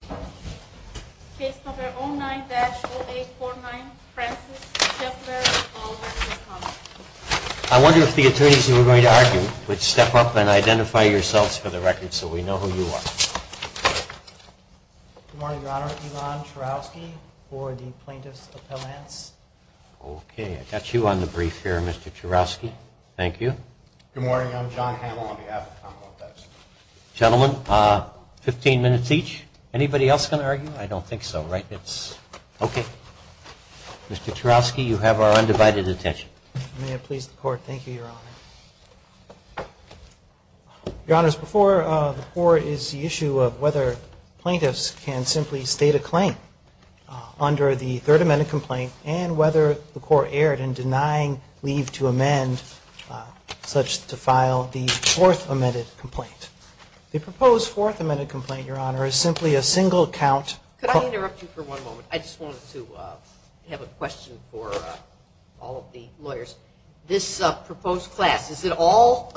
I wonder if the attorneys who are going to argue would step up and identify yourselves for the record so we know who you are. Good morning, Your Honor. Elon Churowsky for the Plaintiffs Appellants. Okay, I've got you on the brief here, Mr. Churowsky. Thank you. Good morning. I'm John Hamill on behalf of the Commonwealth Edison. Gentlemen, 15 minutes each. Anybody else going to argue? I don't think so, right? It's okay. Mr. Churowsky, you have our undivided attention. May it please the Court. Thank you, Your Honor. Your Honors, before the Court is the issue of whether plaintiffs can simply state a claim under the Third Amendment complaint and whether the Court erred in denying leave to amend such to file the Fourth Amendment complaint. The proposed Fourth Amendment complaint, Your Honor, is simply a single count. Could I interrupt you for one moment? I just wanted to have a question for all of the lawyers. This proposed class, is it all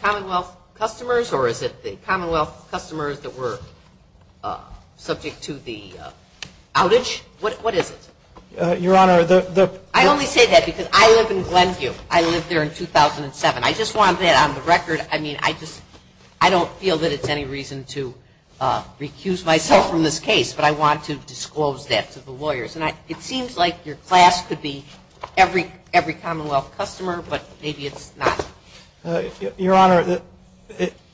Commonwealth customers or is it the Commonwealth customers that were subject to the outage? What is it? Your Honor, the – I only say that because I live in Glenview. I lived there in 2007. I just want that on the record. I mean, I just – I don't feel that it's any reason to recuse myself from this case, but I want to disclose that to the lawyers. And it seems like your class could be every Commonwealth customer, but maybe it's not. Your Honor,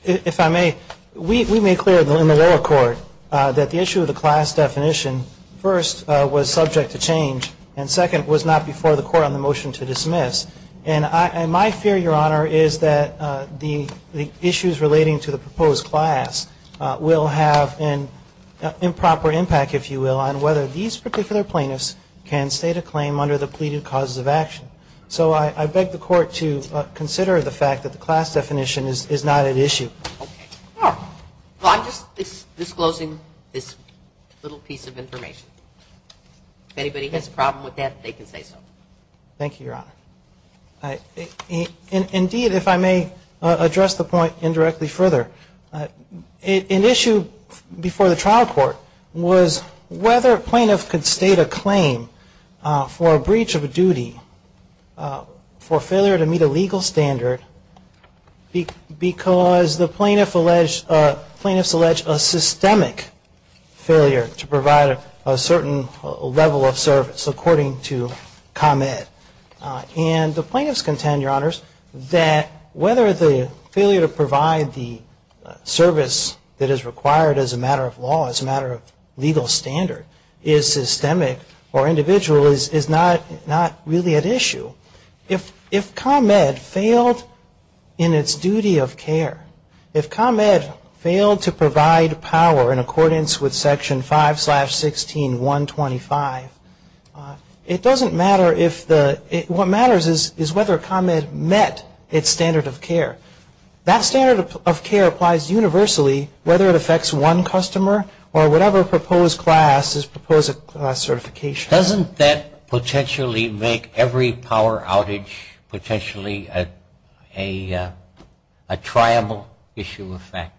if I may, we made clear in the lower court that the issue of the class definition first was subject to change and second was not before the Court on the motion to dismiss. And my fear, Your Honor, is that the issues relating to the proposed class will have an improper impact, if you will, on whether these particular plaintiffs can state a claim under the pleaded causes of action. So I beg the Court to consider the fact that the class definition is not at issue. Well, I'm just disclosing this little piece of information. If anybody has a problem with that, they can say so. Thank you, Your Honor. Indeed, if I may address the point indirectly further, an issue before the trial court was whether a plaintiff could state a claim for a breach of a duty for failure to meet a legal standard because the plaintiffs allege a systemic failure to provide a certain level of service, according to ComEd. And the plaintiffs contend, Your Honors, that whether the failure to provide the service that is required as a matter of law, as a matter of legal standard, is systemic or individual is not really at issue. If ComEd failed in its duty of care, if ComEd failed to provide power in accordance with Section 5-16-125, it doesn't matter if the – what matters is whether ComEd met its standard of care. That standard of care applies universally, whether it affects one customer or whatever proposed class is proposed at class certification. Doesn't that potentially make every power outage potentially a triable issue of fact?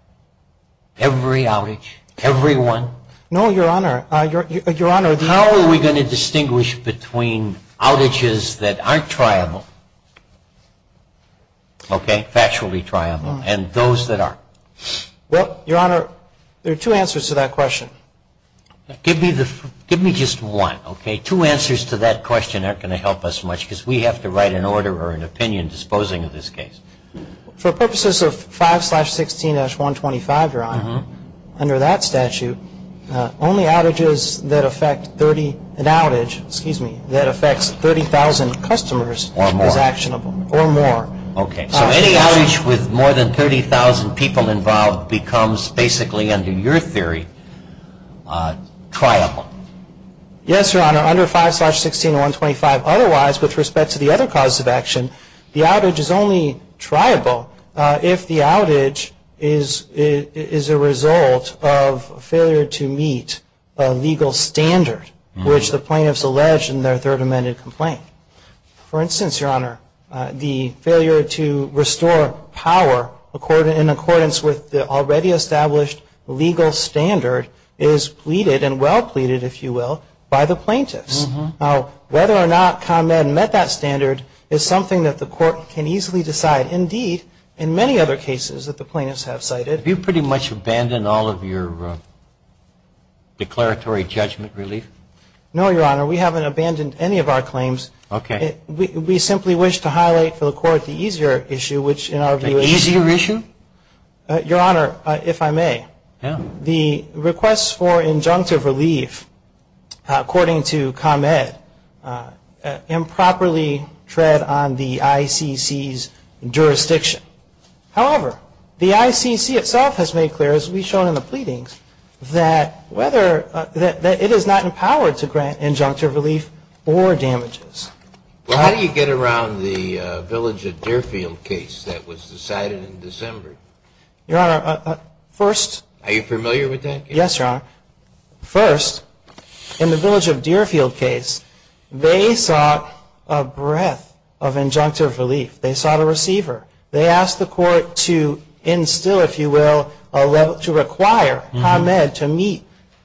Every outage, every one? No, Your Honor. How are we going to distinguish between outages that aren't triable, okay, factually triable, and those that are? Well, Your Honor, there are two answers to that question. Give me just one, okay? Two answers to that question aren't going to help us much because we have to write an order or an opinion disposing of this case. For purposes of 5-16-125, Your Honor, under that statute, only outages that affect 30 – an outage, excuse me, that affects 30,000 customers is actionable. Or more. Or more. Okay. So any outage with more than 30,000 people involved becomes basically, under your theory, triable. Yes, Your Honor. Under 5-16-125, otherwise, with respect to the other causes of action, the outage is only triable if the outage is a result of failure to meet a legal standard, which the plaintiffs allege in their Third Amendment complaint. For instance, Your Honor, the failure to restore power in accordance with the already established legal standard is pleaded and well pleaded, if you will, by the plaintiffs. Now, whether or not ComEd met that standard is something that the court can easily decide. Indeed, in many other cases that the plaintiffs have cited. Have you pretty much abandoned all of your declaratory judgment relief? No, Your Honor. We haven't abandoned any of our claims. Okay. We simply wish to highlight for the court the easier issue, which in our view is – The easier issue? Your Honor, if I may. Yeah. The requests for injunctive relief, according to ComEd, improperly tread on the ICC's jurisdiction. However, the ICC itself has made clear, as we've shown in the pleadings, that it is not empowered to grant injunctive relief or damages. Well, how do you get around the Village of Deerfield case that was decided in December? Your Honor, first – Are you familiar with that case? Yes, Your Honor. First, in the Village of Deerfield case, they sought a breadth of injunctive relief. They sought a receiver. They asked the court to instill, if you will, to require ComEd to meet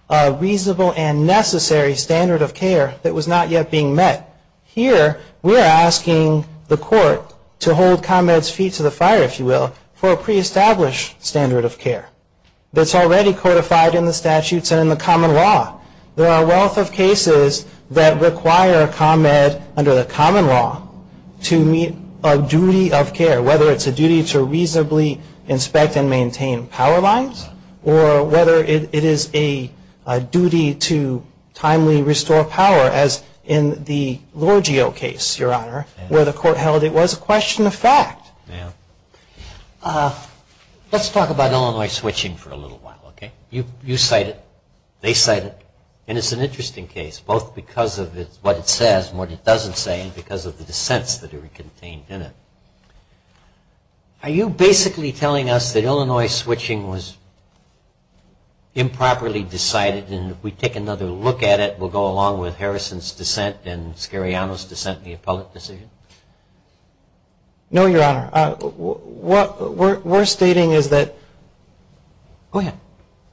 a reasonable and necessary standard of care that was not yet being met. Here, we are asking the court to hold ComEd's feet to the fire, if you will, for a pre-established standard of care. That's already codified in the statutes and in the common law. There are a wealth of cases that require ComEd, under the common law, to meet a duty of care, whether it's a duty to reasonably inspect and maintain power lines, or whether it is a duty to timely restore power, as in the Lorgio case, Your Honor, where the court held it was a question of fact. Let's talk about Illinois switching for a little while, okay? You cite it. They cite it. And it's an interesting case, both because of what it says and what it doesn't say, and because of the dissents that are contained in it. Are you basically telling us that Illinois switching was improperly decided, and if we take another look at it, we'll go along with Harrison's dissent and Scariano's dissent in the appellate decision? No, Your Honor. What we're stating is that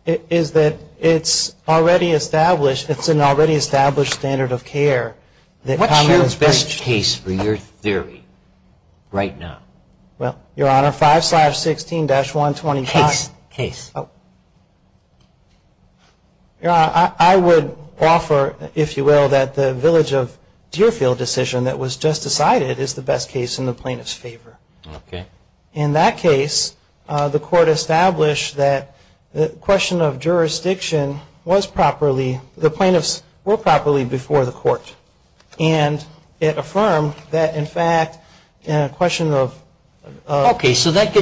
it's already established. It's an already established standard of care. What's your best case for your theory right now? Well, Your Honor, 5-16-125. Case. Case. Your Honor, I would offer, if you will, that the Village of Deerfield decision that was just decided is the best case in the plaintiff's favor. Okay. In that case, the court established that the question of jurisdiction was properly, the plaintiffs were properly before the court, and it affirmed that, in fact, the question of... of the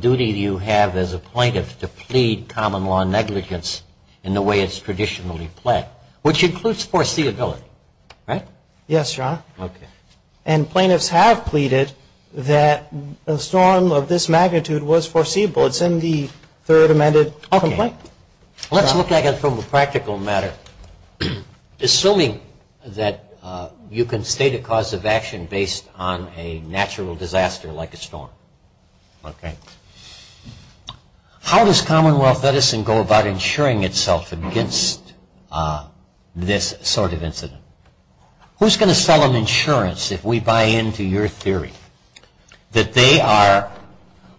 duty you have as a plaintiff to plead common law negligence in the way it's traditionally pled, which includes foreseeability, right? Yes, Your Honor. Okay. And plaintiffs have pleaded that a storm of this magnitude was foreseeable. It's in the third amended complaint. Okay. Let's look at it from a practical matter, assuming that you can state a cause of action based on a natural disaster like a storm. Okay. How does Commonwealth medicine go about insuring itself against this sort of incident? Who's going to sell them insurance if we buy into your theory that they are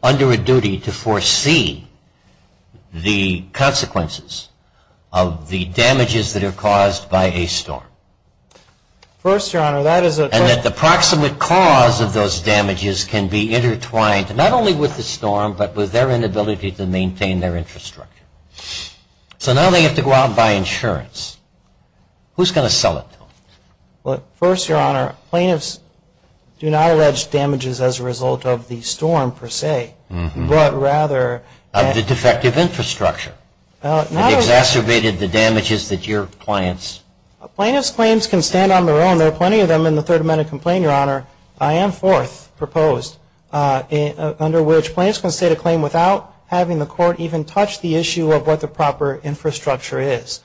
under a duty to foresee the consequences of the damages that are caused by a storm? First, Your Honor, that is a... And that the proximate cause of those damages can be intertwined, not only with the storm, but with their inability to maintain their infrastructure. So now they have to go out and buy insurance. Who's going to sell it to them? First, Your Honor, plaintiffs do not allege damages as a result of the storm, per se, but rather... Of the defective infrastructure that exacerbated the damages that your clients... Plaintiffs' claims can stand on their own. There are plenty of them in the third amended complaint, Your Honor. I am fourth proposed, under which plaintiffs can state a claim without having the court even touch the issue of what the proper infrastructure is.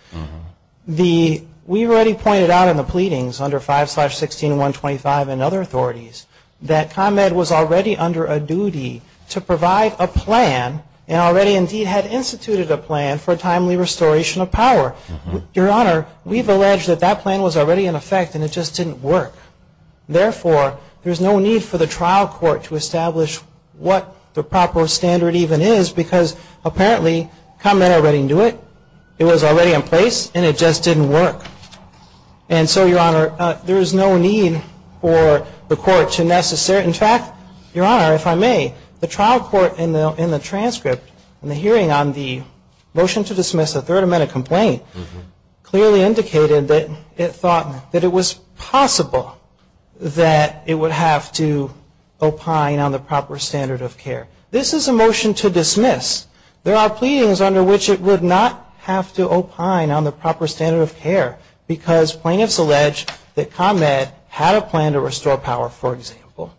The... We already pointed out in the pleadings under 5-16-125 and other authorities that ComEd was already under a duty to provide a plan... And already, indeed, had instituted a plan for timely restoration of power. Your Honor, we've alleged that that plan was already in effect and it just didn't work. Therefore, there's no need for the trial court to establish what the proper standard even is because apparently ComEd already knew it. It was already in place and it just didn't work. And so, Your Honor, there is no need for the court to necessarily... In fact, Your Honor, if I may, the trial court in the transcript, in the hearing on the motion to dismiss the third amended complaint, clearly indicated that it thought that it was possible that it would have to opine on the proper standard of care. This is a motion to dismiss. There are pleadings under which it would not have to opine on the proper standard of care because plaintiffs allege that ComEd had a plan to restore power, for example.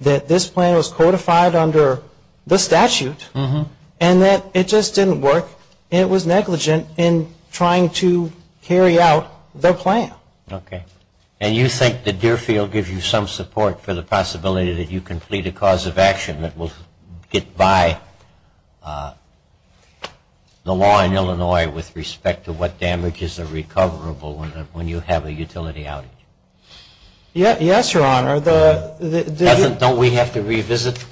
That this plan was codified under the statute and that it just didn't work and it was negligent in trying to carry out the plan. Okay. And you think that Deerfield gives you some support for the possibility that you complete a cause of action that will get by the law in Illinois with respect to what damages are recoverable when you have a utility outage? Yes, Your Honor. Doesn't, don't we have to revisit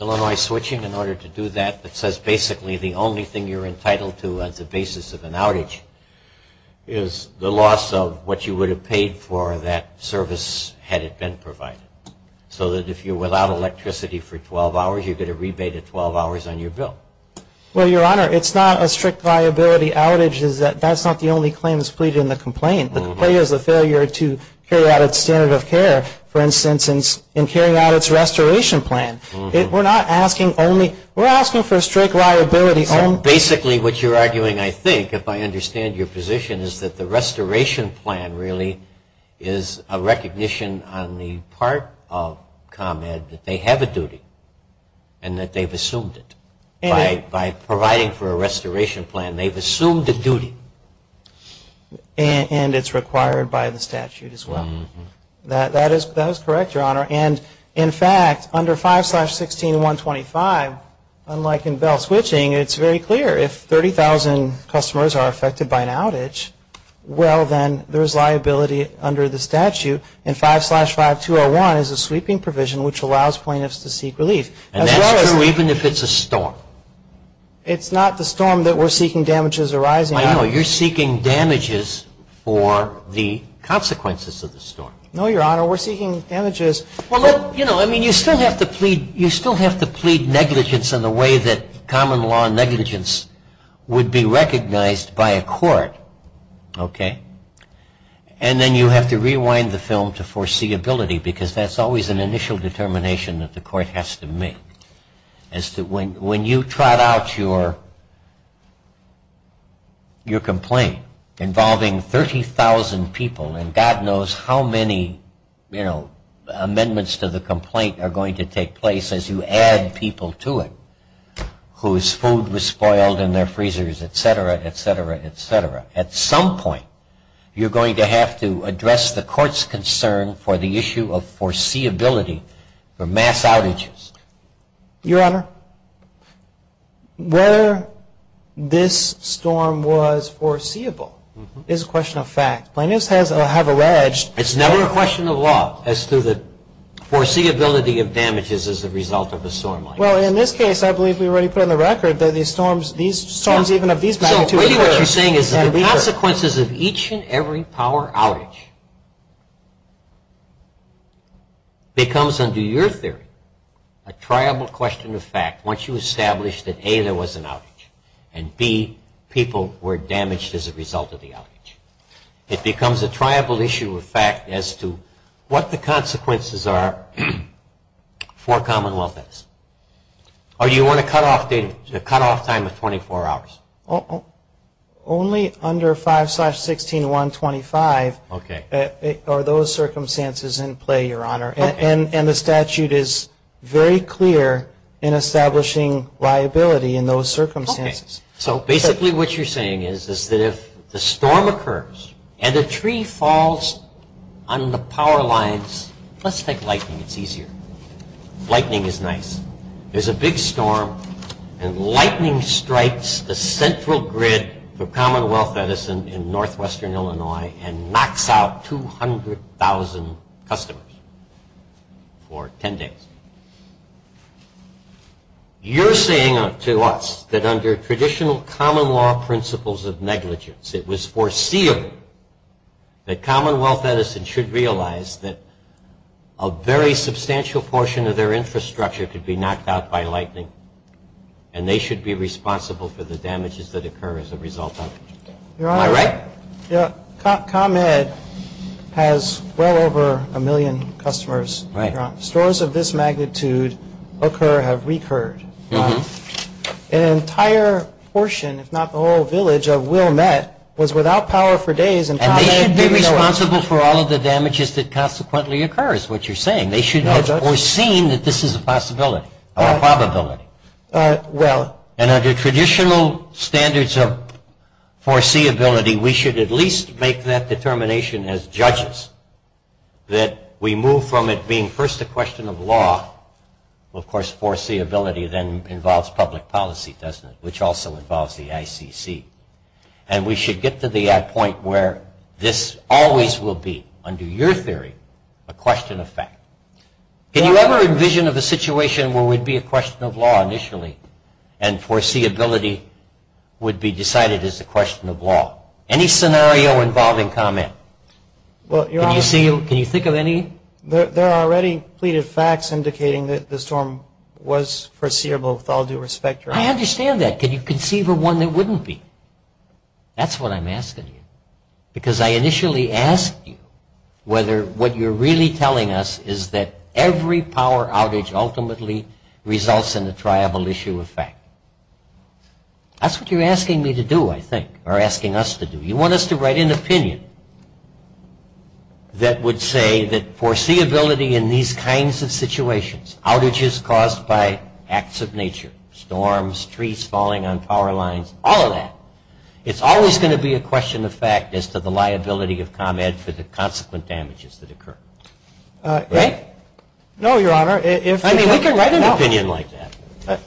Illinois switching in order to do that? It says basically the only thing you're entitled to as a basis of an outage is the loss of what you would have paid for that service had it been provided. So that if you're without electricity for 12 hours, you get a rebate of 12 hours on your bill. Well, Your Honor, it's not a strict liability outage. That's not the only claim that's pleaded in the complaint. The complaint is a failure to carry out its standard of care, for instance, in carrying out its restoration plan. We're not asking only, we're asking for a strict liability. So basically what you're arguing, I think, if I understand your position, is that the restoration plan really is a recognition on the part of ComEd that they have a duty and that they've assumed it by providing for a restoration plan. They've assumed a duty. And it's required by the statute as well. That is correct, Your Honor. And, in fact, under 5-16-125, unlike in bail switching, it's very clear. If 30,000 customers are affected by an outage, well, then there's liability under the statute. And 5-5-201 is a sweeping provision which allows plaintiffs to seek relief. And that's true even if it's a storm? It's not the storm that we're seeking damages arising out of. I know. You're seeking damages for the consequences of the storm. No, Your Honor. We're seeking damages. Well, you know, I mean, you still have to plead negligence in the way that common law negligence would be recognized by a court. Okay? And then you have to rewind the film to foreseeability because that's always an initial determination that the court has to make. When you trot out your complaint involving 30,000 people, and God knows how many amendments to the complaint are going to take place as you add people to it whose food was spoiled in their freezers, et cetera, et cetera, et cetera, at some point you're going to have to address the court's concern for the issue of foreseeability for mass outages. Your Honor, whether this storm was foreseeable is a question of fact. Plaintiffs have alleged It's never a question of law as to the foreseeability of damages as a result of a storm like this. Well, in this case, I believe we already put on the record that these storms, these storms even have these magnitude So really what you're saying is the consequences of each and every power outage becomes under your theory a triable question of fact once you establish that A, there was an outage, and B, people were damaged as a result of the outage. It becomes a triable issue of fact as to what the consequences are for common law. Do you want to cut off time of 24 hours? Only under 5-16-125 are those circumstances in play, Your Honor, and the statute is very clear in establishing liability in those circumstances. So basically what you're saying is that if the storm occurs and the tree falls on the power lines, let's take lightning, it's easier. Lightning is nice. There's a big storm and lightning strikes the central grid for Commonwealth Edison in northwestern Illinois and knocks out 200,000 customers for 10 days. You're saying to us that under traditional common law principles of negligence, it was foreseeable that Commonwealth Edison should realize that a very substantial portion of their infrastructure could be knocked out by lightning and they should be responsible for the damages that occur as a result of it. Am I right? Yeah. ComEd has well over a million customers. Stores of this magnitude occur, have recurred. An entire portion, if not the whole village, of Wilmette was without power for days. And they should be responsible for all of the damages that consequently occur is what you're saying. They should have foreseen that this is a possibility or a probability. And under traditional standards of foreseeability, we should at least make that determination as judges that we move from it being first a question of law, of course foreseeability then involves public policy, doesn't it, which also involves the ICC. And we should get to the point where this always will be, under your theory, a question of fact. Can you ever envision of a situation where it would be a question of law initially and foreseeability would be decided as a question of law? Any scenario involving ComEd? Can you think of any? There are already pleaded facts indicating that the storm was foreseeable with all due respect. I understand that. Can you conceive of one that wouldn't be? That's what I'm asking you. Because I initially asked you whether what you're really telling us is that every power outage ultimately results in a triable issue of fact. That's what you're asking me to do, I think, or asking us to do. You want us to write an opinion that would say that foreseeability in these kinds of situations, outages caused by acts of nature, storms, trees falling on power lines, all of that, it's always going to be a question of fact as to the liability of ComEd for the consequent damages that occur. Right? No, Your Honor. I mean, we can write an opinion like that.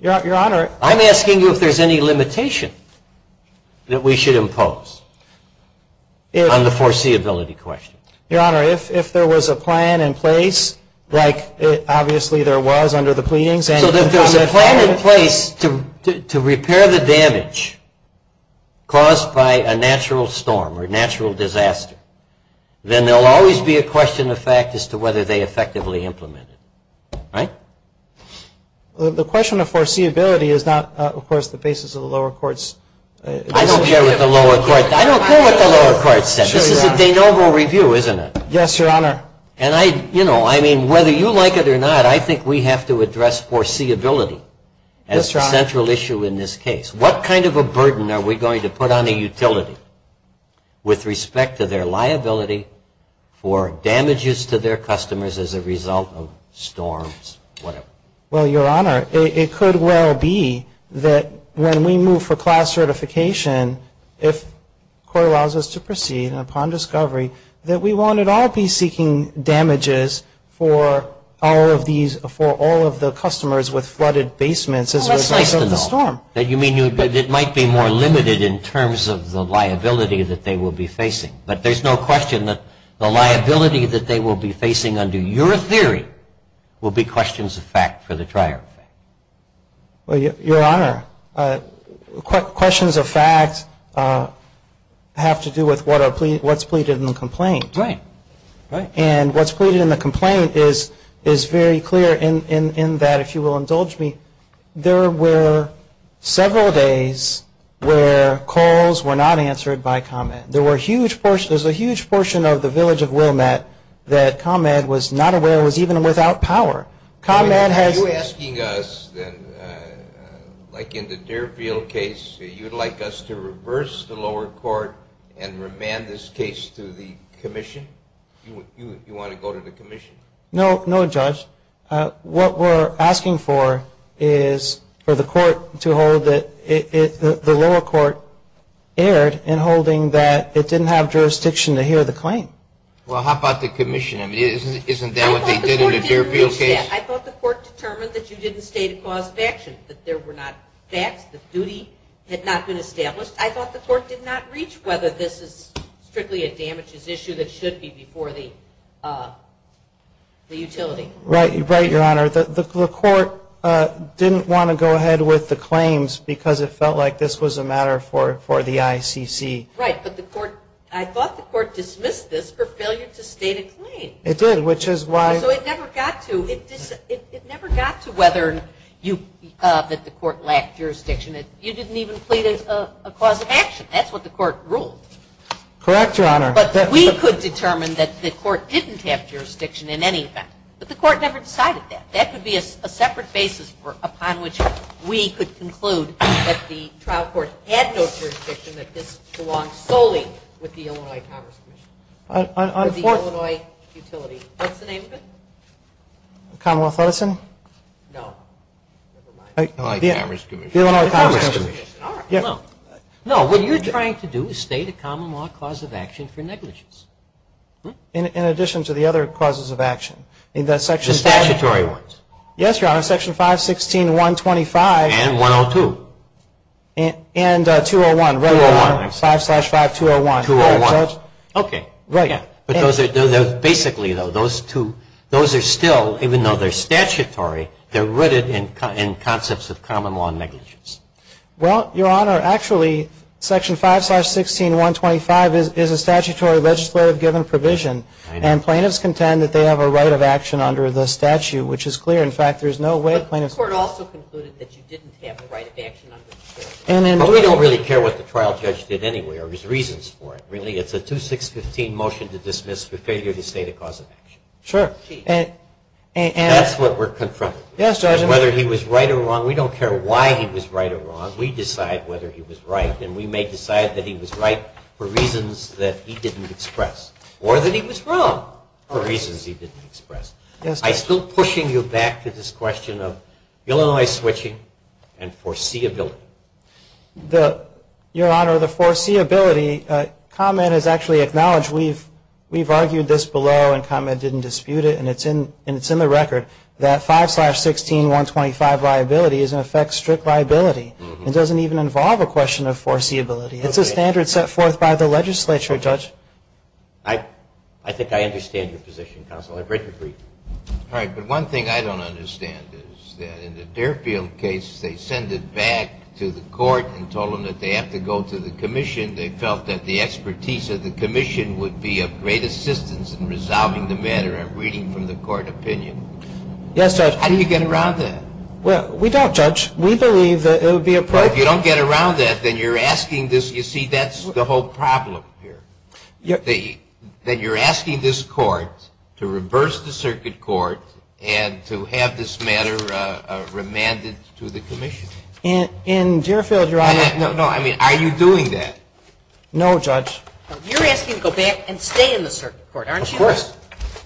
Your Honor. I'm asking you if there's any limitation that we should impose on the foreseeability question. Your Honor, if there was a plan in place, like obviously there was under the pleadings. So if there's a plan in place to repair the damage caused by a natural storm or natural disaster, then there will always be a question of fact as to whether they effectively implement it. Right? The question of foreseeability is not, of course, the basis of the lower courts. I don't care what the lower courts said. This is a de novo review, isn't it? Yes, Your Honor. And I, you know, I mean, whether you like it or not, I think we have to address foreseeability as a central issue in this case. What kind of a burden are we going to put on a utility with respect to their liability for damages to their customers as a result of storms, whatever? Well, Your Honor, it could well be that when we move for class certification, if court allows us to proceed upon discovery, that we won't at all be seeking damages for all of these, for all of the customers with flooded basements as a result of the storm. That you mean it might be more limited in terms of the liability that they will be facing. But there's no question that the liability that they will be facing under your theory will be questions of fact for the trial. Well, Your Honor, questions of fact have to do with what's pleaded in the complaint. Right. And what's pleaded in the complaint is very clear in that, if you will indulge me, there were several days where calls were not answered by ComEd. There was a huge portion of the village of Wilmette that ComEd was not aware was even without power. Are you asking us, like in the Deerfield case, that you would like us to reverse the lower court and remand this case to the commission? You want to go to the commission? No, no, Judge. What we're asking for is for the court to hold that the lower court erred in holding that it didn't have jurisdiction to hear the claim. Well, how about the commission? I mean, isn't that what they did in the Deerfield case? I thought the court determined that you didn't state a cause of action, that there were not facts, the duty had not been established. I thought the court did not reach whether this is strictly a damages issue that should be before the utility. Right, Your Honor. The court didn't want to go ahead with the claims because it felt like this was a matter for the ICC. Right, but I thought the court dismissed this for failure to state a claim. It did, which is why. So it never got to whether the court lacked jurisdiction. You didn't even plead a cause of action. That's what the court ruled. Correct, Your Honor. But we could determine that the court didn't have jurisdiction in any event. But the court never decided that. That could be a separate basis upon which we could conclude that the trial court had no jurisdiction, that this belongs solely with the Illinois Commerce Commission, with the Illinois utility. What's the name of it? Commonwealth Lettison? No, never mind. The Illinois Commerce Commission. No, what you're trying to do is state a common law cause of action for negligence. In addition to the other causes of action. The statutory ones. Yes, Your Honor, Section 516.125. And 102. And 201. 201. 5 slash 5, 201. 201. Okay. Right. Basically, though, those two, those are still, even though they're statutory, they're rooted in concepts of common law negligence. Well, Your Honor, actually, Section 5 slash 16.125 is a statutory legislative given provision. And plaintiffs contend that they have a right of action under the statute, which is clear. In fact, there's no way plaintiffs could. The court also concluded that you didn't have the right of action under the statute. But we don't really care what the trial judge did anyway or his reasons for it, really. It's a 2615 motion to dismiss for failure to state a cause of action. Sure. That's what we're confronting. Yes, Your Honor. Whether he was right or wrong, we don't care why he was right or wrong. We decide whether he was right, and we may decide that he was right for reasons that he didn't express. Or that he was wrong for reasons he didn't express. I'm still pushing you back to this question of Illinois switching and foreseeability. Your Honor, the foreseeability comment is actually acknowledged. We've argued this below, and comment didn't dispute it. And it's in the record that 5 slash 16.125 liability is, in effect, strict liability. It doesn't even involve a question of foreseeability. It's a standard set forth by the legislature, Judge. I think I understand your position, Counsel. All right, but one thing I don't understand is that in the Deerfield case, they send it back to the court and told them that they have to go to the commission. They felt that the expertise of the commission would be of great assistance in resolving the matter. I'm reading from the court opinion. Yes, Judge. How do you get around that? Well, we don't, Judge. We believe that it would be appropriate. Well, if you don't get around that, then you're asking this. You see, that's the whole problem here. That you're asking this court to reverse the circuit court and to have this matter remanded to the commission. In Deerfield, Your Honor. No, I mean, are you doing that? No, Judge. You're asking to go back and stay in the circuit court, aren't you? Of course.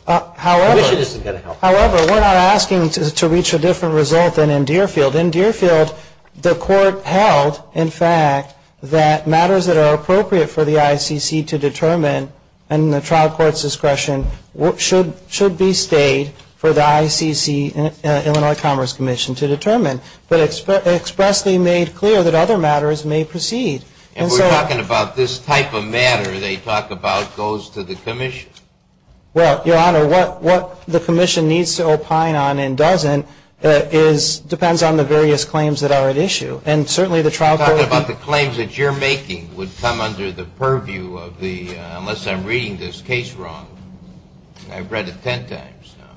However. The commission isn't going to help. However, we're not asking to reach a different result than in Deerfield. In Deerfield, the court held, in fact, that matters that are appropriate for the ICC to determine and the trial court's discretion should be stayed for the ICC, Illinois Commerce Commission, to determine. But expressly made clear that other matters may proceed. And we're talking about this type of matter they talk about goes to the commission. Well, Your Honor, what the commission needs to opine on and doesn't depends on the various claims that are at issue. And certainly the trial court. You're talking about the claims that you're making would come under the purview of the, unless I'm reading this case wrong. I've read it ten times now.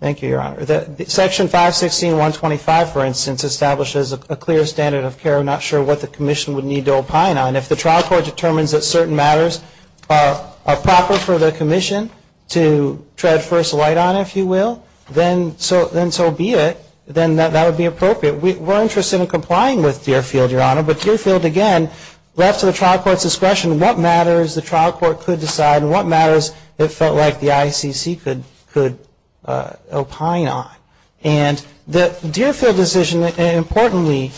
Thank you, Your Honor. Section 516.125, for instance, establishes a clear standard of care. I'm not sure what the commission would need to opine on. If the trial court determines that certain matters are proper for the commission to tread first light on, if you will, then so be it. Then that would be appropriate. We're interested in complying with Deerfield, Your Honor. But Deerfield, again, left to the trial court's discretion what matters the trial court could decide and what matters it felt like the ICC could opine on. And the Deerfield decision, importantly,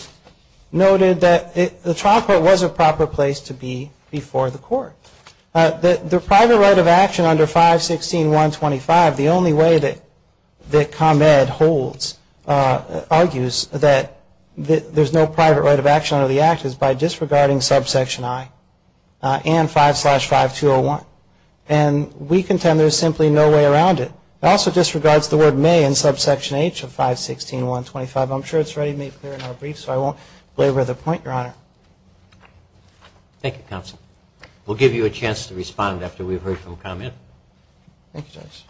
noted that the trial court was a proper place to be before the court. The private right of action under 516.125, the only way that ComEd holds, argues, that there's no private right of action under the Act is by disregarding subsection I and 5 slash 5201. And we contend there's simply no way around it. It also disregards the word may in subsection H of 516.125. I'm sure it's ready, made clear in our brief, so I won't belabor the point, Your Honor. Thank you, Counsel. We'll give you a chance to respond after we've heard from ComEd. Thank you, Judge.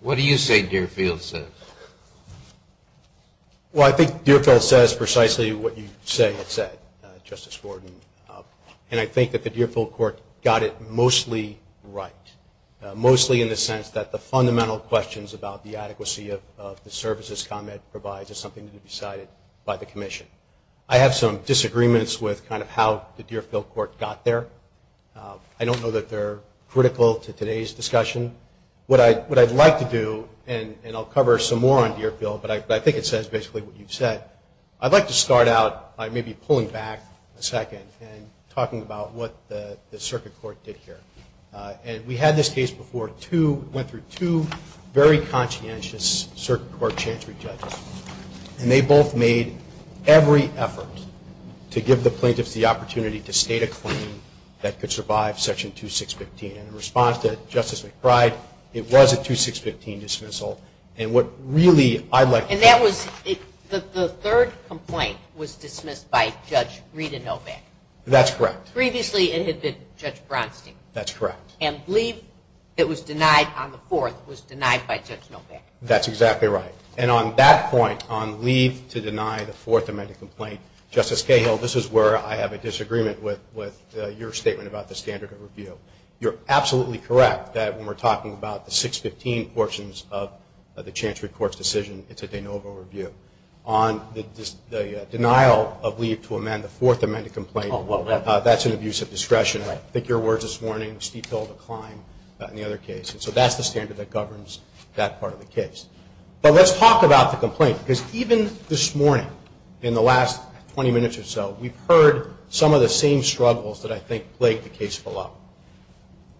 What do you say Deerfield says? Well, I think Deerfield says precisely what you say it said, Justice Gordon. And I think that the Deerfield court got it mostly right, mostly in the sense that the fundamental questions about the adequacy of the services ComEd provides is something to be decided by the commission. I have some disagreements with kind of how the Deerfield court got there. I don't know that they're critical to today's discussion. What I'd like to do, and I'll cover some more on Deerfield, but I think it says basically what you've said, I'd like to start out by maybe pulling back a second and talking about what the circuit court did here. And we had this case before, went through two very conscientious circuit court chancery judges. And they both made every effort to give the plaintiffs the opportunity to state a claim that could survive Section 2615. And in response to Justice McBride, it was a 2615 dismissal. And what really I'd like to... And that was, the third complaint was dismissed by Judge Rita Novak. That's correct. Previously it had been Judge Bronstein. That's correct. And I believe it was denied on the fourth, it was denied by Judge Novak. That's exactly right. And on that point, on leave to deny the fourth amended complaint, Justice Cahill, this is where I have a disagreement with your statement about the standard of review. You're absolutely correct that when we're talking about the 615 portions of the chancery court's decision, it's a de novo review. On the denial of leave to amend the fourth amended complaint, that's an abuse of discretion. I think your words this morning, steep hill to climb in the other case. And so that's the standard that governs that part of the case. But let's talk about the complaint. Because even this morning, in the last 20 minutes or so, we've heard some of the same struggles that I think plagued the case below.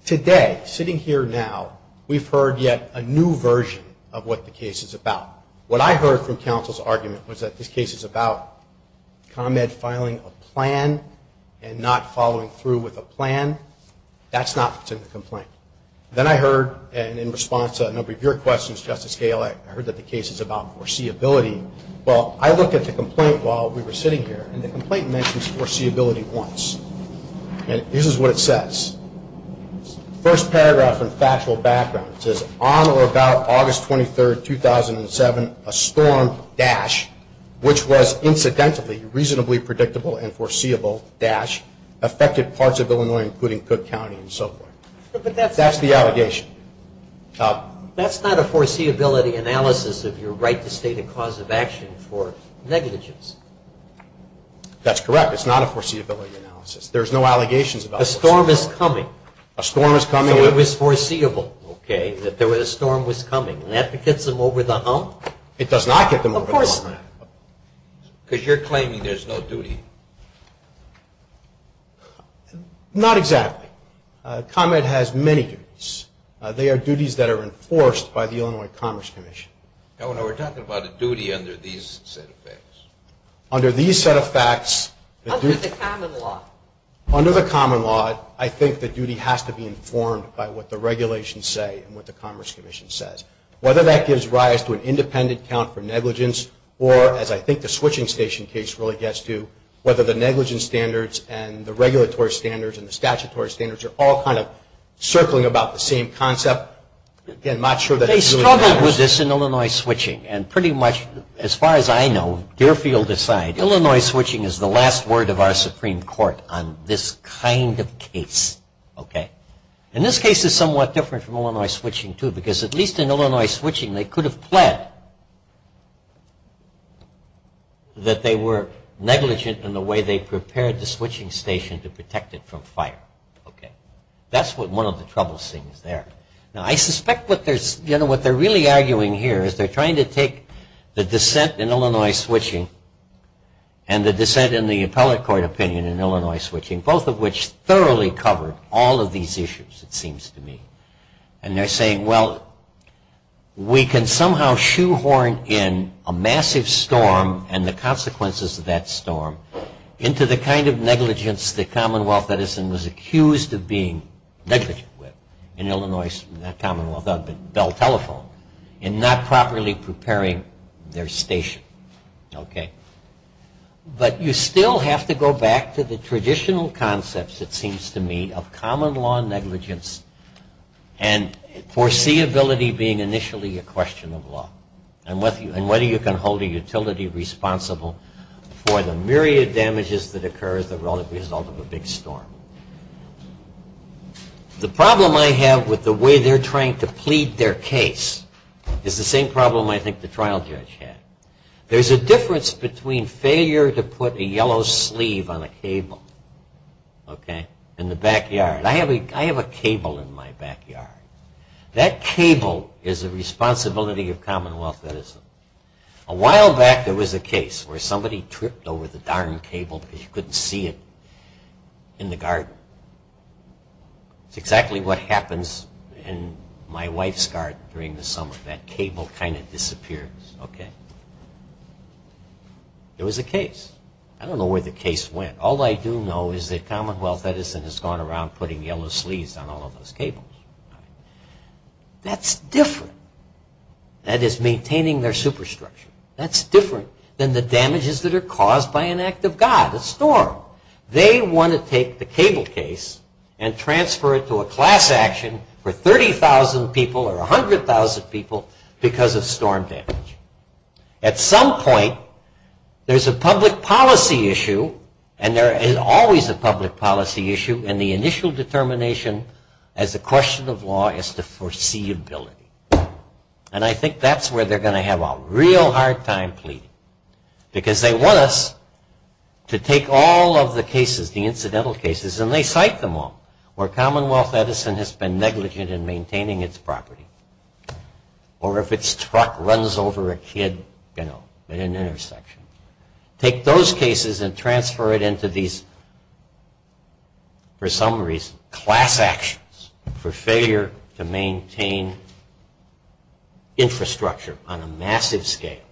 Today, sitting here now, we've heard yet a new version of what the case is about. What I heard from counsel's argument was that this case is about ComEd filing a plan and not following through with a plan. That's not what's in the complaint. Then I heard, and in response to a number of your questions, Justice Cahill, I heard that the case is about foreseeability. Well, I looked at the complaint while we were sitting here, and the complaint mentions foreseeability once. And this is what it says. First paragraph in factual background. It says, on or about August 23, 2007, a storm dash, which was incidentally reasonably predictable and foreseeable dash, affected parts of Illinois, including Cook County and so forth. That's the allegation. That's not a foreseeability analysis of your right to state a cause of action for negligence. That's correct. It's not a foreseeability analysis. There's no allegations about the storm. A storm is coming. A storm is coming. So it was foreseeable, okay, that a storm was coming. And that gets them over the hump? It does not get them over the hump. Of course not. Because you're claiming there's no duty. Not exactly. ComEd has many duties. They are duties that are enforced by the Illinois Commerce Commission. Now, when we're talking about a duty under these set of facts. Under these set of facts. Under the common law. Under the common law, I think the duty has to be informed by what the regulations say and what the Commerce Commission says. Whether that gives rise to an independent count for negligence or, as I think the switching station case really gets to, whether the negligence standards and the regulatory standards and the statutory standards are all kind of circling about the same concept. Again, I'm not sure. They struggled with this in Illinois switching. And pretty much, as far as I know, Deerfield aside, Illinois switching is the last word of our Supreme Court on this kind of case. Okay? And this case is somewhat different from Illinois switching too because, at least in Illinois switching, they could have pled that they were negligent in the way they prepared the switching station to protect it from fire. Okay? That's one of the troublesome things there. Now, I suspect what they're really arguing here is they're trying to take the dissent in Illinois switching and the dissent in the appellate court opinion in Illinois switching, both of which thoroughly covered all of these issues, it seems to me. And they're saying, well, we can somehow shoehorn in a massive storm and the consequences of that storm into the kind of negligence the Commonwealth Edison was accused of being negligent with in Illinois, not Commonwealth, Bell Telephone, in not properly preparing their station. Okay? But you still have to go back to the traditional concepts, it seems to me, of common law negligence and foreseeability being initially a question of law and whether you can hold a utility responsible for the myriad damages that occur as the result of a big storm. The problem I have with the way they're trying to plead their case is the same problem I think the trial judge had. There's a difference between failure to put a yellow sleeve on a cable, okay, in the backyard. I have a cable in my backyard. That cable is a responsibility of Commonwealth Edison. A while back there was a case where somebody tripped over the darn cable because you couldn't see it in the garden. It's exactly what happens in my wife's garden during the summer. That cable kind of disappears. Okay. There was a case. I don't know where the case went. All I do know is that Commonwealth Edison has gone around putting yellow sleeves on all of those cables. That's different. That is maintaining their superstructure. That's different than the damages that are caused by an act of God, a storm. They want to take the cable case and transfer it to a class action for 30,000 people or 100,000 people because of storm damage. At some point there's a public policy issue and there is always a public policy issue and the initial determination as a question of law is the foreseeability. And I think that's where they're going to have a real hard time pleading because they want us to take all of the cases, the incidental cases, and they cite them all, where Commonwealth Edison has been negligent in maintaining its property or if its truck runs over a kid at an intersection. Take those cases and transfer it into these, for some reason, class actions for failure to maintain infrastructure on a massive scale.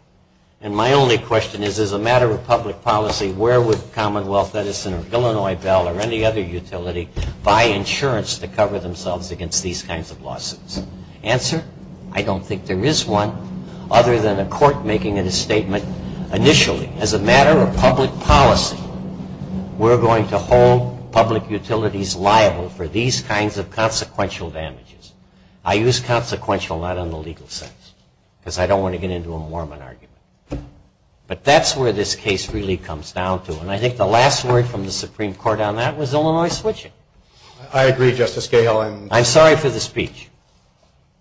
And my only question is, as a matter of public policy, where would Commonwealth Edison or Illinois Bell or any other utility buy insurance to cover themselves against these kinds of lawsuits? Answer, I don't think there is one other than a court making a statement, initially, as a matter of public policy, we're going to hold public utilities liable for these kinds of consequential damages. I use consequential not in the legal sense because I don't want to get into a Mormon argument. But that's where this case really comes down to and I think the last word from the Supreme Court on that was Illinois switching. I agree, Justice Gale. I'm sorry for the speech.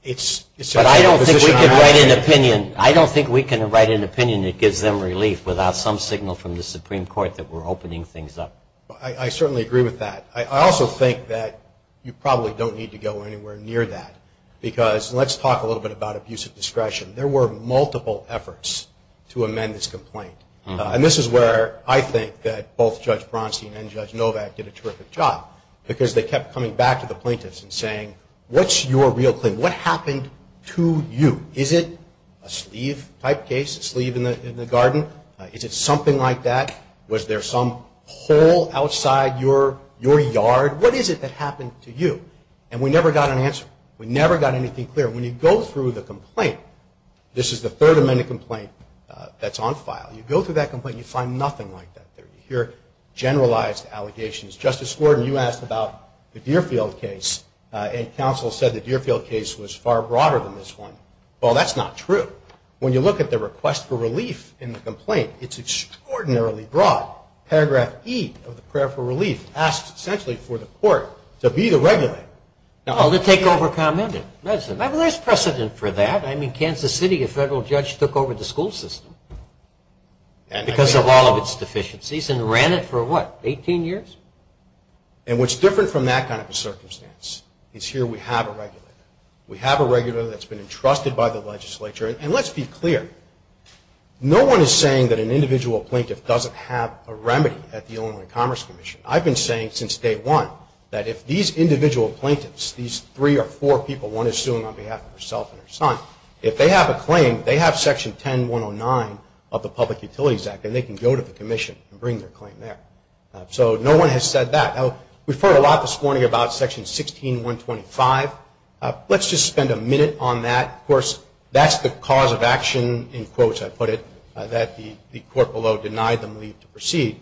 But I don't think we can write an opinion that gives them relief without some signal from the Supreme Court that we're opening things up. I certainly agree with that. I also think that you probably don't need to go anywhere near that because let's talk a little bit about abuse of discretion. There were multiple efforts to amend this complaint. And this is where I think that both Judge Bronstein and Judge Novak did a terrific job because they kept coming back to the plaintiffs and saying, what's your real claim? What happened to you? Is it a sleeve type case, a sleeve in the garden? Is it something like that? Was there some hole outside your yard? What is it that happened to you? And we never got an answer. We never got anything clear. When you go through the complaint, this is the third amended complaint that's on file, you go through that complaint and you find nothing like that there. You hear generalized allegations. Justice Gordon, you asked about the Deerfield case, and counsel said the Deerfield case was far broader than this one. Well, that's not true. When you look at the request for relief in the complaint, it's extraordinarily broad. Paragraph E of the prayer for relief asks essentially for the court to be the regulator. Oh, to take over comment and medicine. Well, there's precedent for that. I mean, Kansas City, a federal judge took over the school system because of all of its deficiencies and ran it for, what, 18 years? And what's different from that kind of a circumstance is here we have a regulator. We have a regulator that's been entrusted by the legislature. And let's be clear, no one is saying that an individual plaintiff doesn't have a remedy at the Illinois Commerce Commission. I've been saying since day one that if these individual plaintiffs, these three or four people, one is suing on behalf of herself and her son, if they have a claim, they have Section 10109 of the Public Utilities Act, and they can go to the commission and bring their claim there. So no one has said that. Now, we've heard a lot this morning about Section 16125. Let's just spend a minute on that. Of course, that's the cause of action, in quotes I put it, that the court below denied them leave to proceed.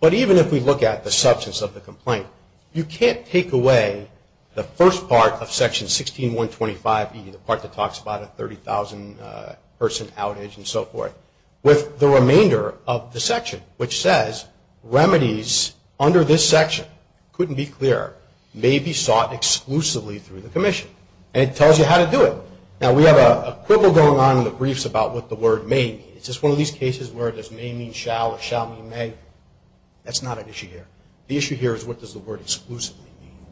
But even if we look at the substance of the complaint, you can't take away the first part of Section 16125, the part that talks about a 30,000-person outage and so forth, with the remainder of the section, which says, remedies under this section, couldn't be clearer, may be sought exclusively through the commission. And it tells you how to do it. Now, we have a quibble going on in the briefs about what the word may mean. It's just one of these cases where there's may mean shall or shall mean may. That's not an issue here. The issue here is what does the word exclusively mean,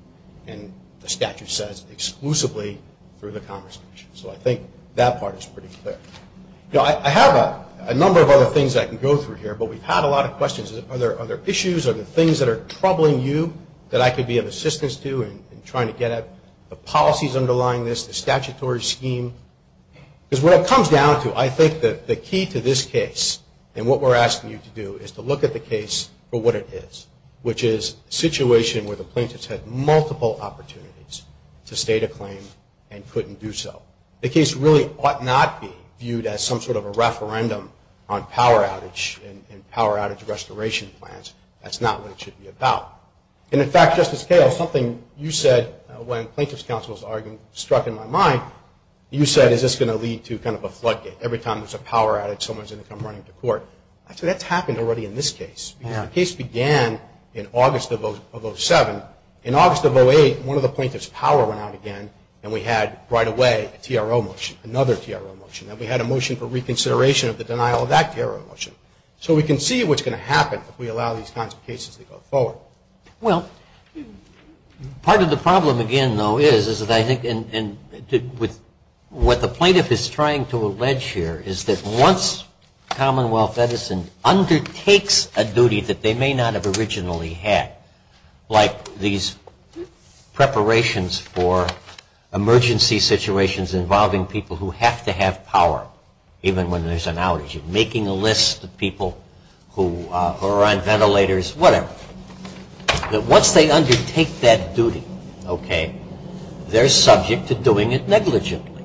and the statute says exclusively through the conversation. So I think that part is pretty clear. Now, I have a number of other things I can go through here, but we've had a lot of questions. Are there issues, are there things that are troubling you that I could be of assistance to in trying to get at the policies underlying this, the statutory scheme? Because what it comes down to, I think that the key to this case, and what we're asking you to do, is to look at the case for what it is, which is a situation where the plaintiffs had multiple opportunities to state a claim and couldn't do so. The case really ought not be viewed as some sort of a referendum on power outage and power outage restoration plans. That's not what it should be about. And, in fact, Justice Cahill, something you said, when Plaintiff's Counsel's argument struck in my mind, you said is this going to lead to kind of a floodgate. Every time there's a power outage, someone's going to come running to court. Actually, that's happened already in this case. The case began in August of 2007. In August of 2008, one of the plaintiffs' power went out again, and we had right away a TRO motion, another TRO motion. And we had a motion for reconsideration of the denial of that TRO motion. So we can see what's going to happen if we allow these kinds of cases to go forward. Well, part of the problem, again, though, is that I think what the plaintiff is trying to allege here is that once Commonwealth Edison undertakes a duty that they may not have originally had, like these preparations for emergency situations involving people who have to have power even when there's an outage, making a list of people who are on ventilators, whatever, that once they undertake that duty, okay, they're subject to doing it negligently.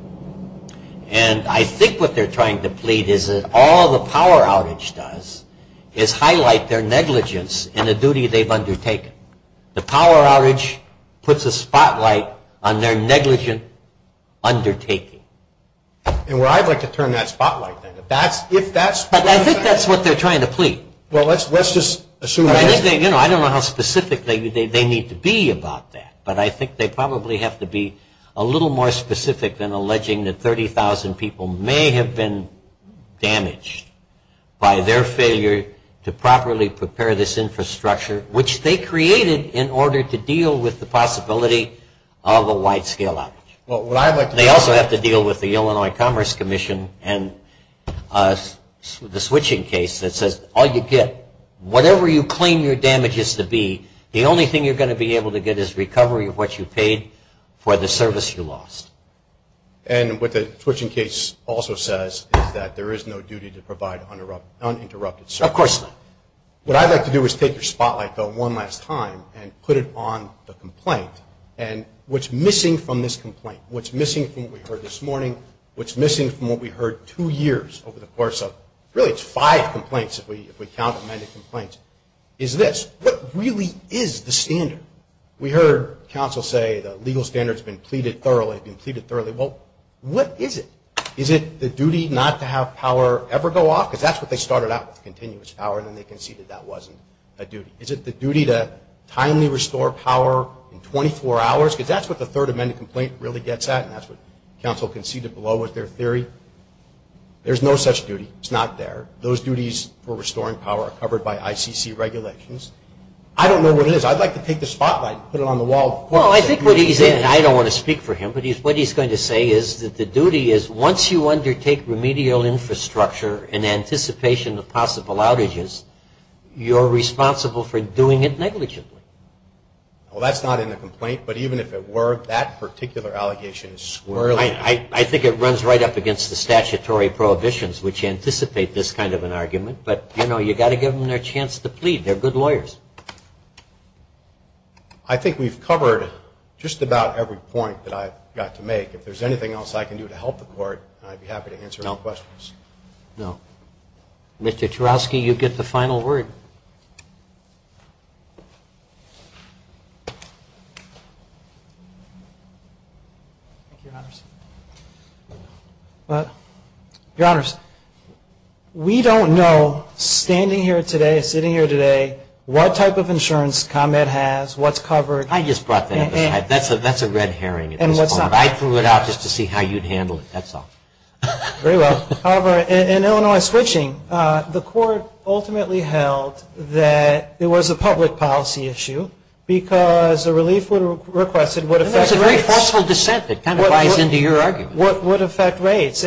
And I think what they're trying to plead is that all the power outage does is highlight their negligence in a duty they've undertaken. The power outage puts a spotlight on their negligent undertaking. And where I'd like to turn that spotlight then. But I think that's what they're trying to plead. I don't know how specific they need to be about that, but I think they probably have to be a little more specific than alleging that 30,000 people may have been damaged by their failure to properly prepare this infrastructure, which they created in order to deal with the possibility of a wide-scale outage. They also have to deal with the Illinois Commerce Commission and the switching case that says all you get, whatever you claim your damage is to be, the only thing you're going to be able to get is recovery of what you paid for the service you lost. And what the switching case also says is that there is no duty to provide uninterrupted service. Of course not. What I'd like to do is take your spotlight, though, one last time and put it on the complaint. And what's missing from this complaint, what's missing from what we heard this morning, what's missing from what we heard two years over the course of really it's five complaints, if we count amended complaints, is this. What really is the standard? We heard counsel say the legal standard has been pleaded thoroughly. Well, what is it? Is it the duty not to have power ever go off? Because that's what they started out with, continuous power, and then they conceded that wasn't a duty. Is it the duty to timely restore power in 24 hours? Because that's what the third amended complaint really gets at, and that's what counsel conceded below with their theory. There's no such duty. It's not there. Those duties for restoring power are covered by ICC regulations. I don't know what it is. I'd like to take the spotlight and put it on the wall. Well, I think what he's saying, and I don't want to speak for him, but what he's going to say is that the duty is once you undertake remedial infrastructure in anticipation of possible outages, you're responsible for doing it negligently. Well, that's not in the complaint, but even if it were, that particular allegation is squarely. I think it runs right up against the statutory prohibitions, which anticipate this kind of an argument, but I know you've got to give them their chance to plead. They're good lawyers. I think we've covered just about every point that I've got to make. If there's anything else I can do to help the Court, I'd be happy to answer all questions. No. Mr. Churowsky, you get the final word. Your Honors, we don't know, standing here today, sitting here today, what type of insurance ComEd has, what's covered. I just brought that up. That's a red herring at this point. I threw it out just to see how you'd handle it. That's all. Very well. However, in Illinois switching, the Court ultimately held that it was a public policy issue because the relief requested would affect rates. That's a very forceful dissent that kind of lies into your argument. Would affect rates.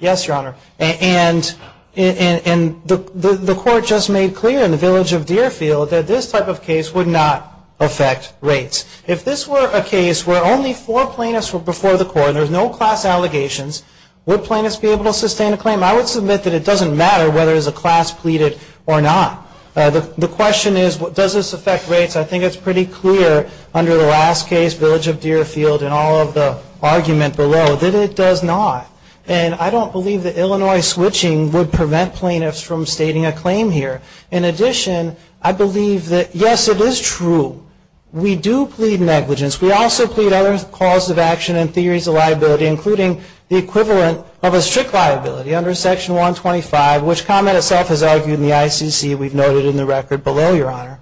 Yes, Your Honor, and the Court just made clear in the village of Deerfield that this type of case would not affect rates. If this were a case where only four plaintiffs were before the Court, and there's no class allegations, would plaintiffs be able to sustain a claim? I would submit that it doesn't matter whether there's a class pleaded or not. The question is, does this affect rates? I think it's pretty clear under the last case, village of Deerfield, and all of the argument below, that it does not. And I don't believe that Illinois switching would prevent plaintiffs from stating a claim here. In addition, I believe that, yes, it is true, we do plead negligence. We also plead other causes of action and theories of liability, including the equivalent of a strict liability under Section 125, which comment itself is argued in the ICC, we've noted in the record below, Your Honor.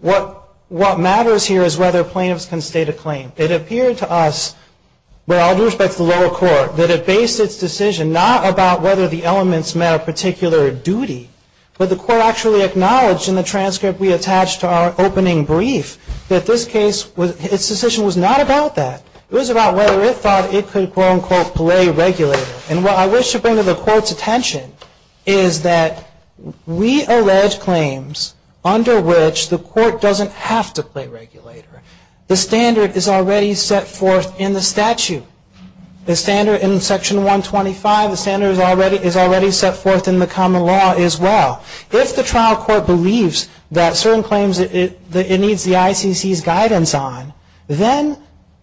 What matters here is whether plaintiffs can state a claim. It appeared to us, with all due respect to the lower court, that it based its decision not about whether the elements met a particular duty, but the Court actually acknowledged in the transcript we attached to our opening brief that this case, its decision was not about that. It was about whether it thought it could, quote, unquote, play regulator. And what I wish to bring to the Court's attention is that we allege claims under which the Court doesn't have to play regulator. The standard is already set forth in the statute. The standard in Section 125, the standard is already set forth in the common law as well. If the trial court believes that certain claims it needs the ICC's guidance on, then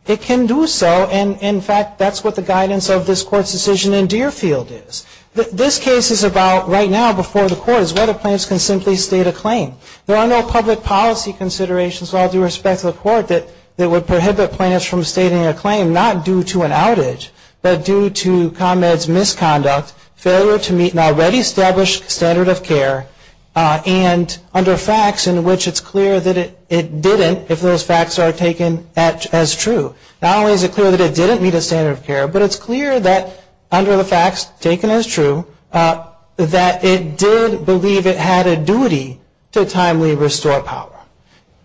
it can do so. And, in fact, that's what the guidance of this Court's decision in Deerfield is. This case is about, right now before the Court, is whether plaintiffs can simply state a claim. There are no public policy considerations, with all due respect to the Court, that would prohibit plaintiffs from stating a claim, not due to an outage, but due to ComEd's misconduct, failure to meet an already established standard of care, and under facts in which it's clear that it didn't, if those facts are taken as true. Not only is it clear that it didn't meet a standard of care, but it's clear that under the facts taken as true, that it did believe it had a duty to timely restore power.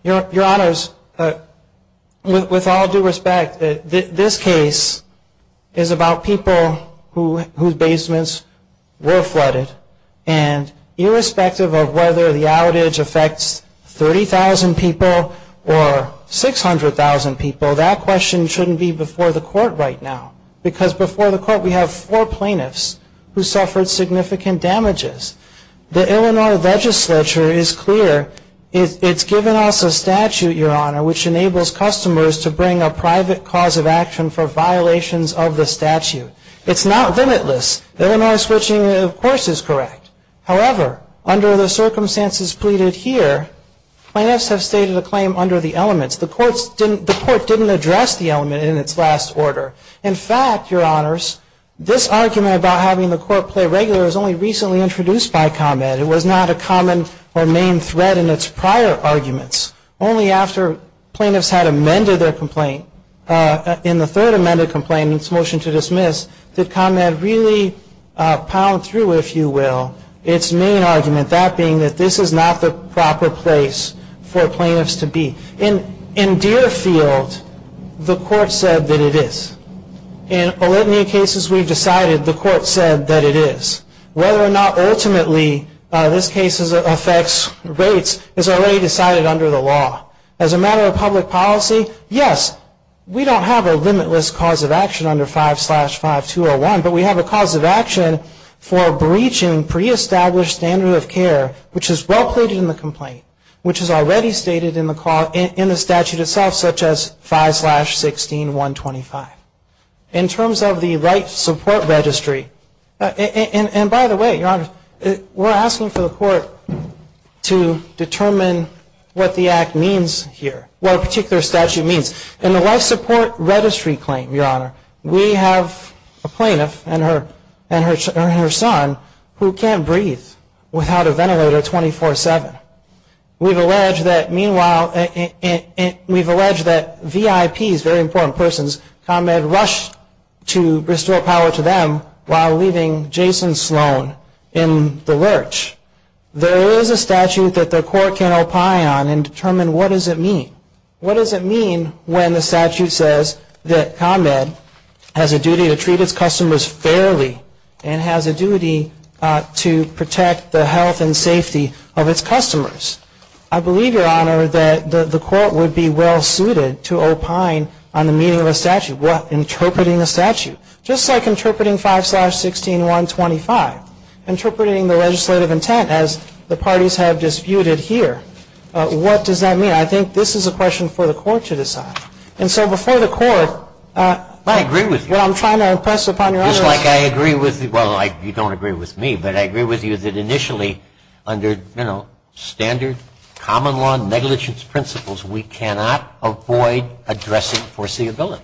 Your Honors, with all due respect, this case is about people whose basements were flooded, and irrespective of whether the outage affects 30,000 people or 600,000 people, that question shouldn't be before the Court right now. Because before the Court, we have four plaintiffs who suffered significant damages. The Illinois legislature is clear, it's given us a statute, Your Honor, which enables customers to bring a private cause of action for violations of the statute. It's not limitless. Illinois switching, of course, is correct. However, under the circumstances pleaded here, plaintiffs have stated a claim under the elements. The Court didn't address the element in its last order. In fact, Your Honors, this argument about having the Court play regular was only recently introduced by ComEd. It was not a common or main thread in its prior arguments. Only after plaintiffs had amended their complaint, in the third amended complaint, in its motion to dismiss, did ComEd really pound through, if you will, its main argument, that being that this is not the proper place for plaintiffs to be. In Deerfield, the Court said that it is. In Olympia cases we've decided the Court said that it is. Whether or not ultimately this case affects rates is already decided under the law. As a matter of public policy, yes, we don't have a limitless cause of action under 5-5201, but we have a cause of action for breaching pre-established standards of care, which is well-plated in the complaint, which is already stated in the statute itself, such as 5-16-125. In terms of the life support registry, and by the way, Your Honors, we're asking for the Court to determine what the act means here, what a particular statute means. In the life support registry claim, Your Honor, we have a plaintiff and her son who can't breathe without a ventilator 24-7. We've alleged that meanwhile, we've alleged that VIPs, very important persons, ComEd rushed to restore power to them while leaving Jason Sloan in the lurch. There is a statute that the Court can opine on and determine what does it mean. What does it mean when the statute says that ComEd has a duty to treat its customers fairly and has a duty to protect the health and safety of its customers? I believe, Your Honor, that the Court would be well-suited to opine on the meaning of a statute. What? Interpreting a statute, just like interpreting 5-16-125, interpreting the legislative intent as the parties have disputed here. What does that mean? I think this is a question for the Court to decide. And so before the Court, what I'm trying to impress upon Your Honor is it seems like I agree with you, well, you don't agree with me, but I agree with you that initially under, you know, standard common law negligence principles, we cannot avoid addressing foreseeability.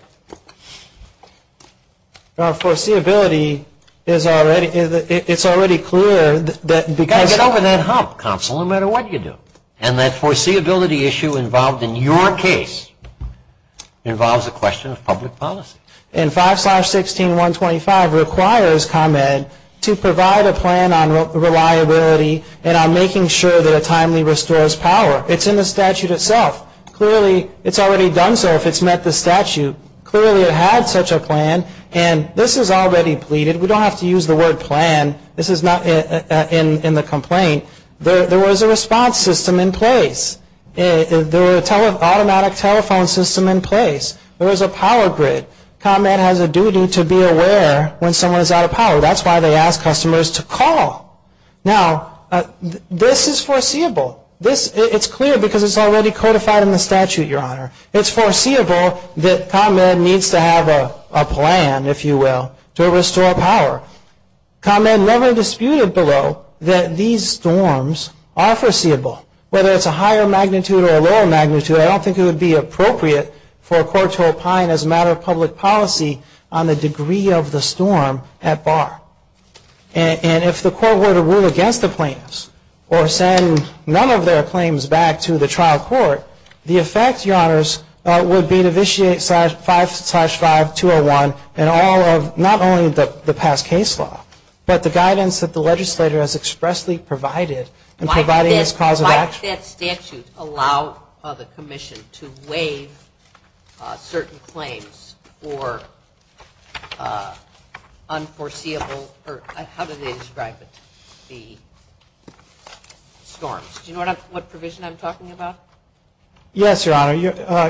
Your Honor, foreseeability is already, it's already clear that because You've got to get over that hump, counsel, no matter what you do. And that foreseeability issue involved in your case involves a question of public policy. And 5-16-125 requires ComEd to provide a plan on reliability and on making sure that it timely restores power. It's in the statute itself. Clearly, it's already done so if it's met the statute. Clearly, it had such a plan. And this is already pleaded. We don't have to use the word plan. This is not in the complaint. There was a response system in place. There was an automatic telephone system in place. There was a power grid. ComEd has a duty to be aware when someone is out of power. That's why they ask customers to call. Now, this is foreseeable. It's clear because it's already codified in the statute, Your Honor. It's foreseeable that ComEd needs to have a plan, if you will, to restore power. ComEd never disputed below that these storms are foreseeable. Whether it's a higher magnitude or a lower magnitude, I don't think it would be appropriate for a court to opine as a matter of public policy on the degree of the storm at bar. And if the court were to rule against the plans or send none of their claims back to the trial court, the effect, Your Honors, would be to vitiate 5-501 and not only the past case law, but the guidance that the legislator has expressly provided in providing this cause of action. Does the statute allow the commission to waive certain claims or unforeseeable or how do they describe it, the storms? Do you know what provision I'm talking about? Yes, Your Honor.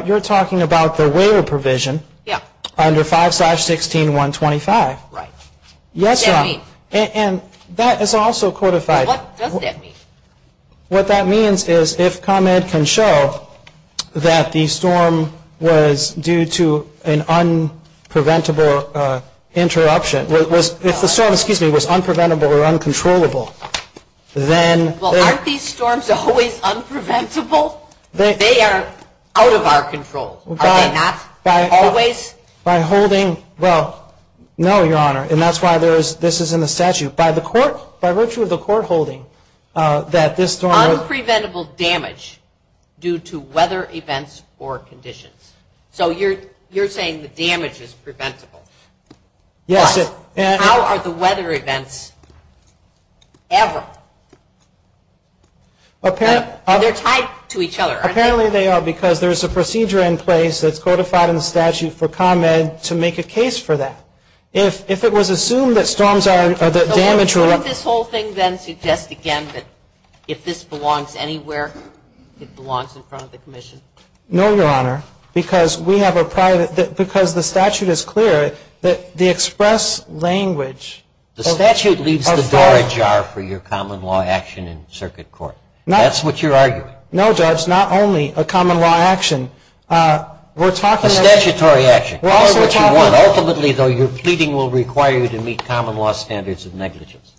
You're talking about the waiver provision under 5-16125. Right. Yes, Your Honor. What does that mean? And that is also codified. What does that mean? What that means is if ComEd can show that the storm was due to an unpreventable interruption, if the storm was unpreventable or uncontrollable, then... Well, aren't these storms always unpreventable? They are out of our control. Are they not always? By holding, well, no, Your Honor. And that's why this is in the statute. By virtue of the court holding that this storm... Unpreventable damage due to weather events or conditions. So you're saying the damage is preventable. Yes. But how are the weather events ever? They're tied to each other, aren't they? Apparently they are because there's a procedure in place that's codified in the statute for ComEd to make a case for that. Well, if it was assumed that storms are damage... So wouldn't this whole thing then suggest again that if this belongs anywhere, it belongs in front of the commission? No, Your Honor, because we have a private... because the statute is clear that the express language... The statute leaves the door ajar for your common law action in circuit court. That's what you're arguing. No, Judge, not only a common law action. We're talking... A statutory action. Ultimately, though, your pleading will require you to meet common law standards of negligence.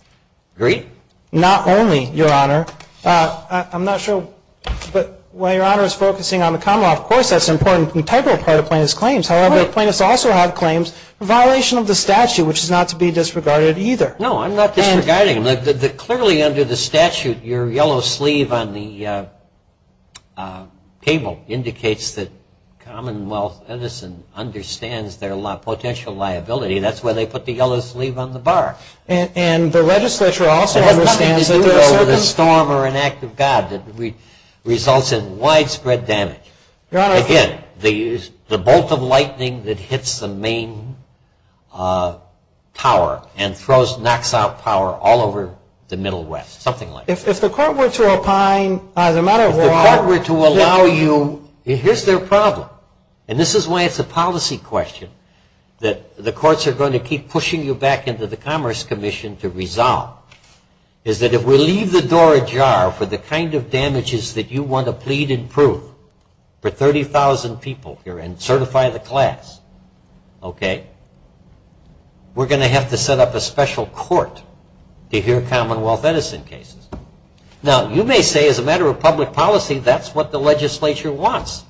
Agreed? Not only, Your Honor. I'm not sure, but while Your Honor is focusing on the common law, of course that's an important integral part of plaintiff's claims. However, plaintiffs also have claims in violation of the statute, which is not to be disregarded either. No, I'm not disregarding them. Clearly under the statute, your yellow sleeve on the table indicates that Commonwealth Edison understands their potential liability. That's why they put the yellow sleeve on the bar. And the legislature also understands that there are certain... It has nothing to do with a storm or an act of God that results in widespread damage. Your Honor... Again, the bolt of lightning that hits the main tower and throws, knocks out power all over the Middle West, something like that. If the court were to opine, as a matter of law... If the court were to allow you... Here's their problem, and this is why it's a policy question that the courts are going to keep pushing you back into the Commerce Commission to resolve, is that if we leave the door ajar for the kind of damages that you want to plead and prove for 30,000 people here and certify the class, okay, we're going to have to set up a special court to hear Commonwealth Edison cases. Now, you may say, as a matter of public policy, that's what the legislature wants.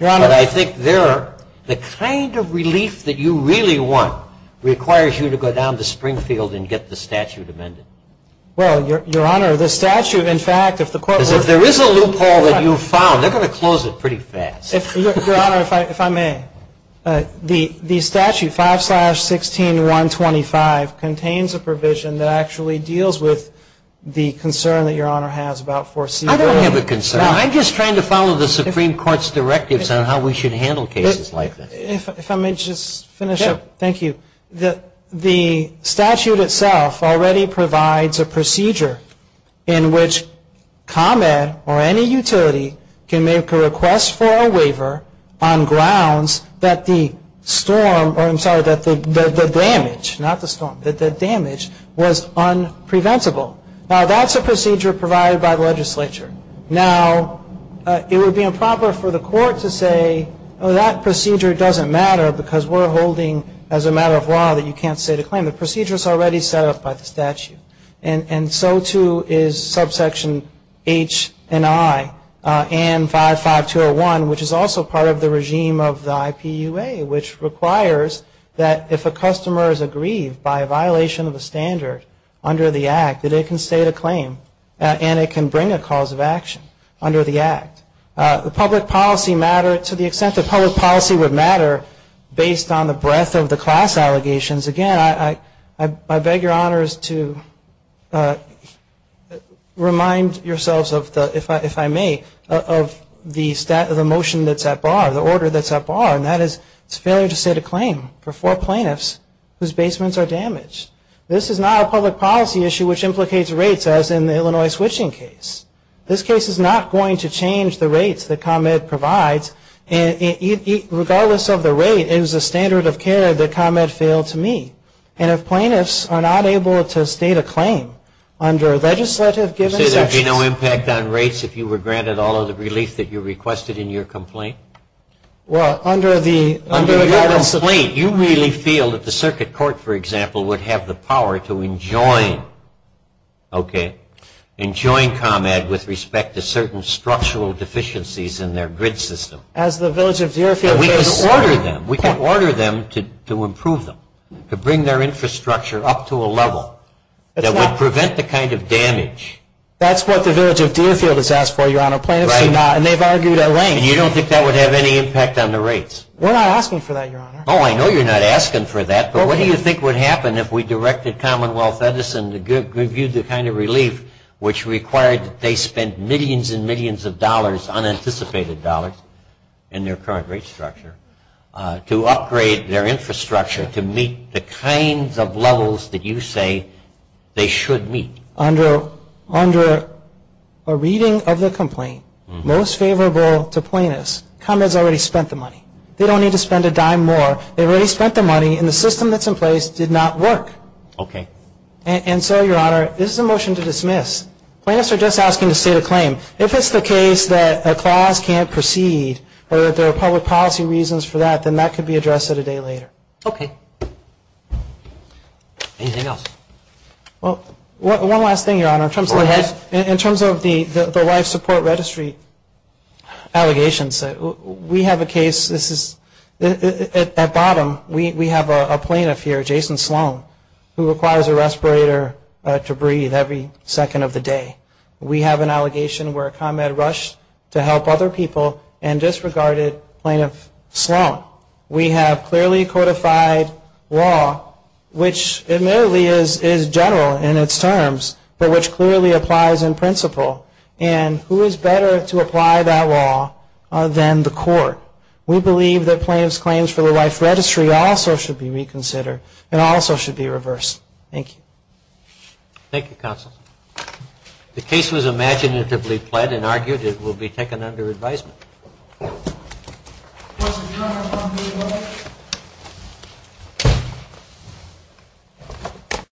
Your Honor... But I think the kind of relief that you really want requires you to go down to Springfield and get the statute amended. Well, Your Honor, the statute, in fact, if the court were to... Because if there is a loophole that you found, they're going to close it pretty fast. Your Honor, if I may, the statute, 5-16-125, contains a provision that actually deals with the concern that Your Honor has about foreseeable... I don't have a concern. I'm just trying to follow the Supreme Court's directives on how we should handle cases like this. If I may just finish up. Sure. Thank you. The statute itself already provides a procedure in which ComEd or any utility can make a request for a waiver on grounds that the damage was unpreventable. Now, that's a procedure provided by the legislature. Now, it would be improper for the court to say, oh, that procedure doesn't matter because we're holding, as a matter of law, that you can't say to claim. And so, too, is subsection H and I and 55201, which is also part of the regime of the IPUA, which requires that if a customer is aggrieved by a violation of a standard under the Act, that it can state a claim and it can bring a cause of action under the Act. The public policy matter to the extent that public policy would matter based on the breadth of the class allegations. Again, I beg your honors to remind yourselves, if I may, of the motion that's at bar, the order that's at bar, and that is it's a failure to state a claim for four plaintiffs whose basements are damaged. This is not a public policy issue which implicates rates as in the Illinois switching case. This case is not going to change the rates that ComEd provides. Regardless of the rate, it is a standard of care that ComEd failed to meet. And if plaintiffs are not able to state a claim under a legislative given section... You say there'd be no impact on rates if you were granted all of the relief that you requested in your complaint? Well, under the... Under your complaint, you really feel that the circuit court, for example, would have the power to enjoin, okay, enjoin ComEd with respect to certain structural deficiencies in their grid system. As the village of Deerfield says... And we can order them, we can order them to improve them, to bring their infrastructure up to a level that would prevent the kind of damage. That's what the village of Deerfield has asked for, Your Honor, plaintiffs do not... Right. And they've argued at length... And you don't think that would have any impact on the rates? We're not asking for that, Your Honor. Oh, I know you're not asking for that. But what do you think would happen if we directed Commonwealth Edison to give you the kind of relief which required that they spend millions and millions of dollars, unanticipated dollars, in their current rate structure to upgrade their infrastructure to meet the kinds of levels that you say they should meet? Under a reading of the complaint, most favorable to plaintiffs, ComEd's already spent the money. They don't need to spend a dime more. They've already spent the money, and the system that's in place did not work. Okay. And so, Your Honor, this is a motion to dismiss. Plaintiffs are just asking to state a claim. If it's the case that a clause can't proceed or that there are public policy reasons for that, then that could be addressed at a day later. Okay. Anything else? Well, one last thing, Your Honor, in terms of... Go ahead. Allegations. We have a case, this is... At bottom, we have a plaintiff here, Jason Sloan, who requires a respirator to breathe every second of the day. We have an allegation where ComEd rushed to help other people and disregarded plaintiff Sloan. We have clearly codified law, which admittedly is general in its terms, but which clearly applies in principle. And who is better to apply that law than the court? We believe that plaintiff's claims for the life registry also should be reconsidered and also should be reversed. Thank you. Thank you, counsel. The case was imaginatively pled and argued. It will be taken under advisement. Court is adjourned.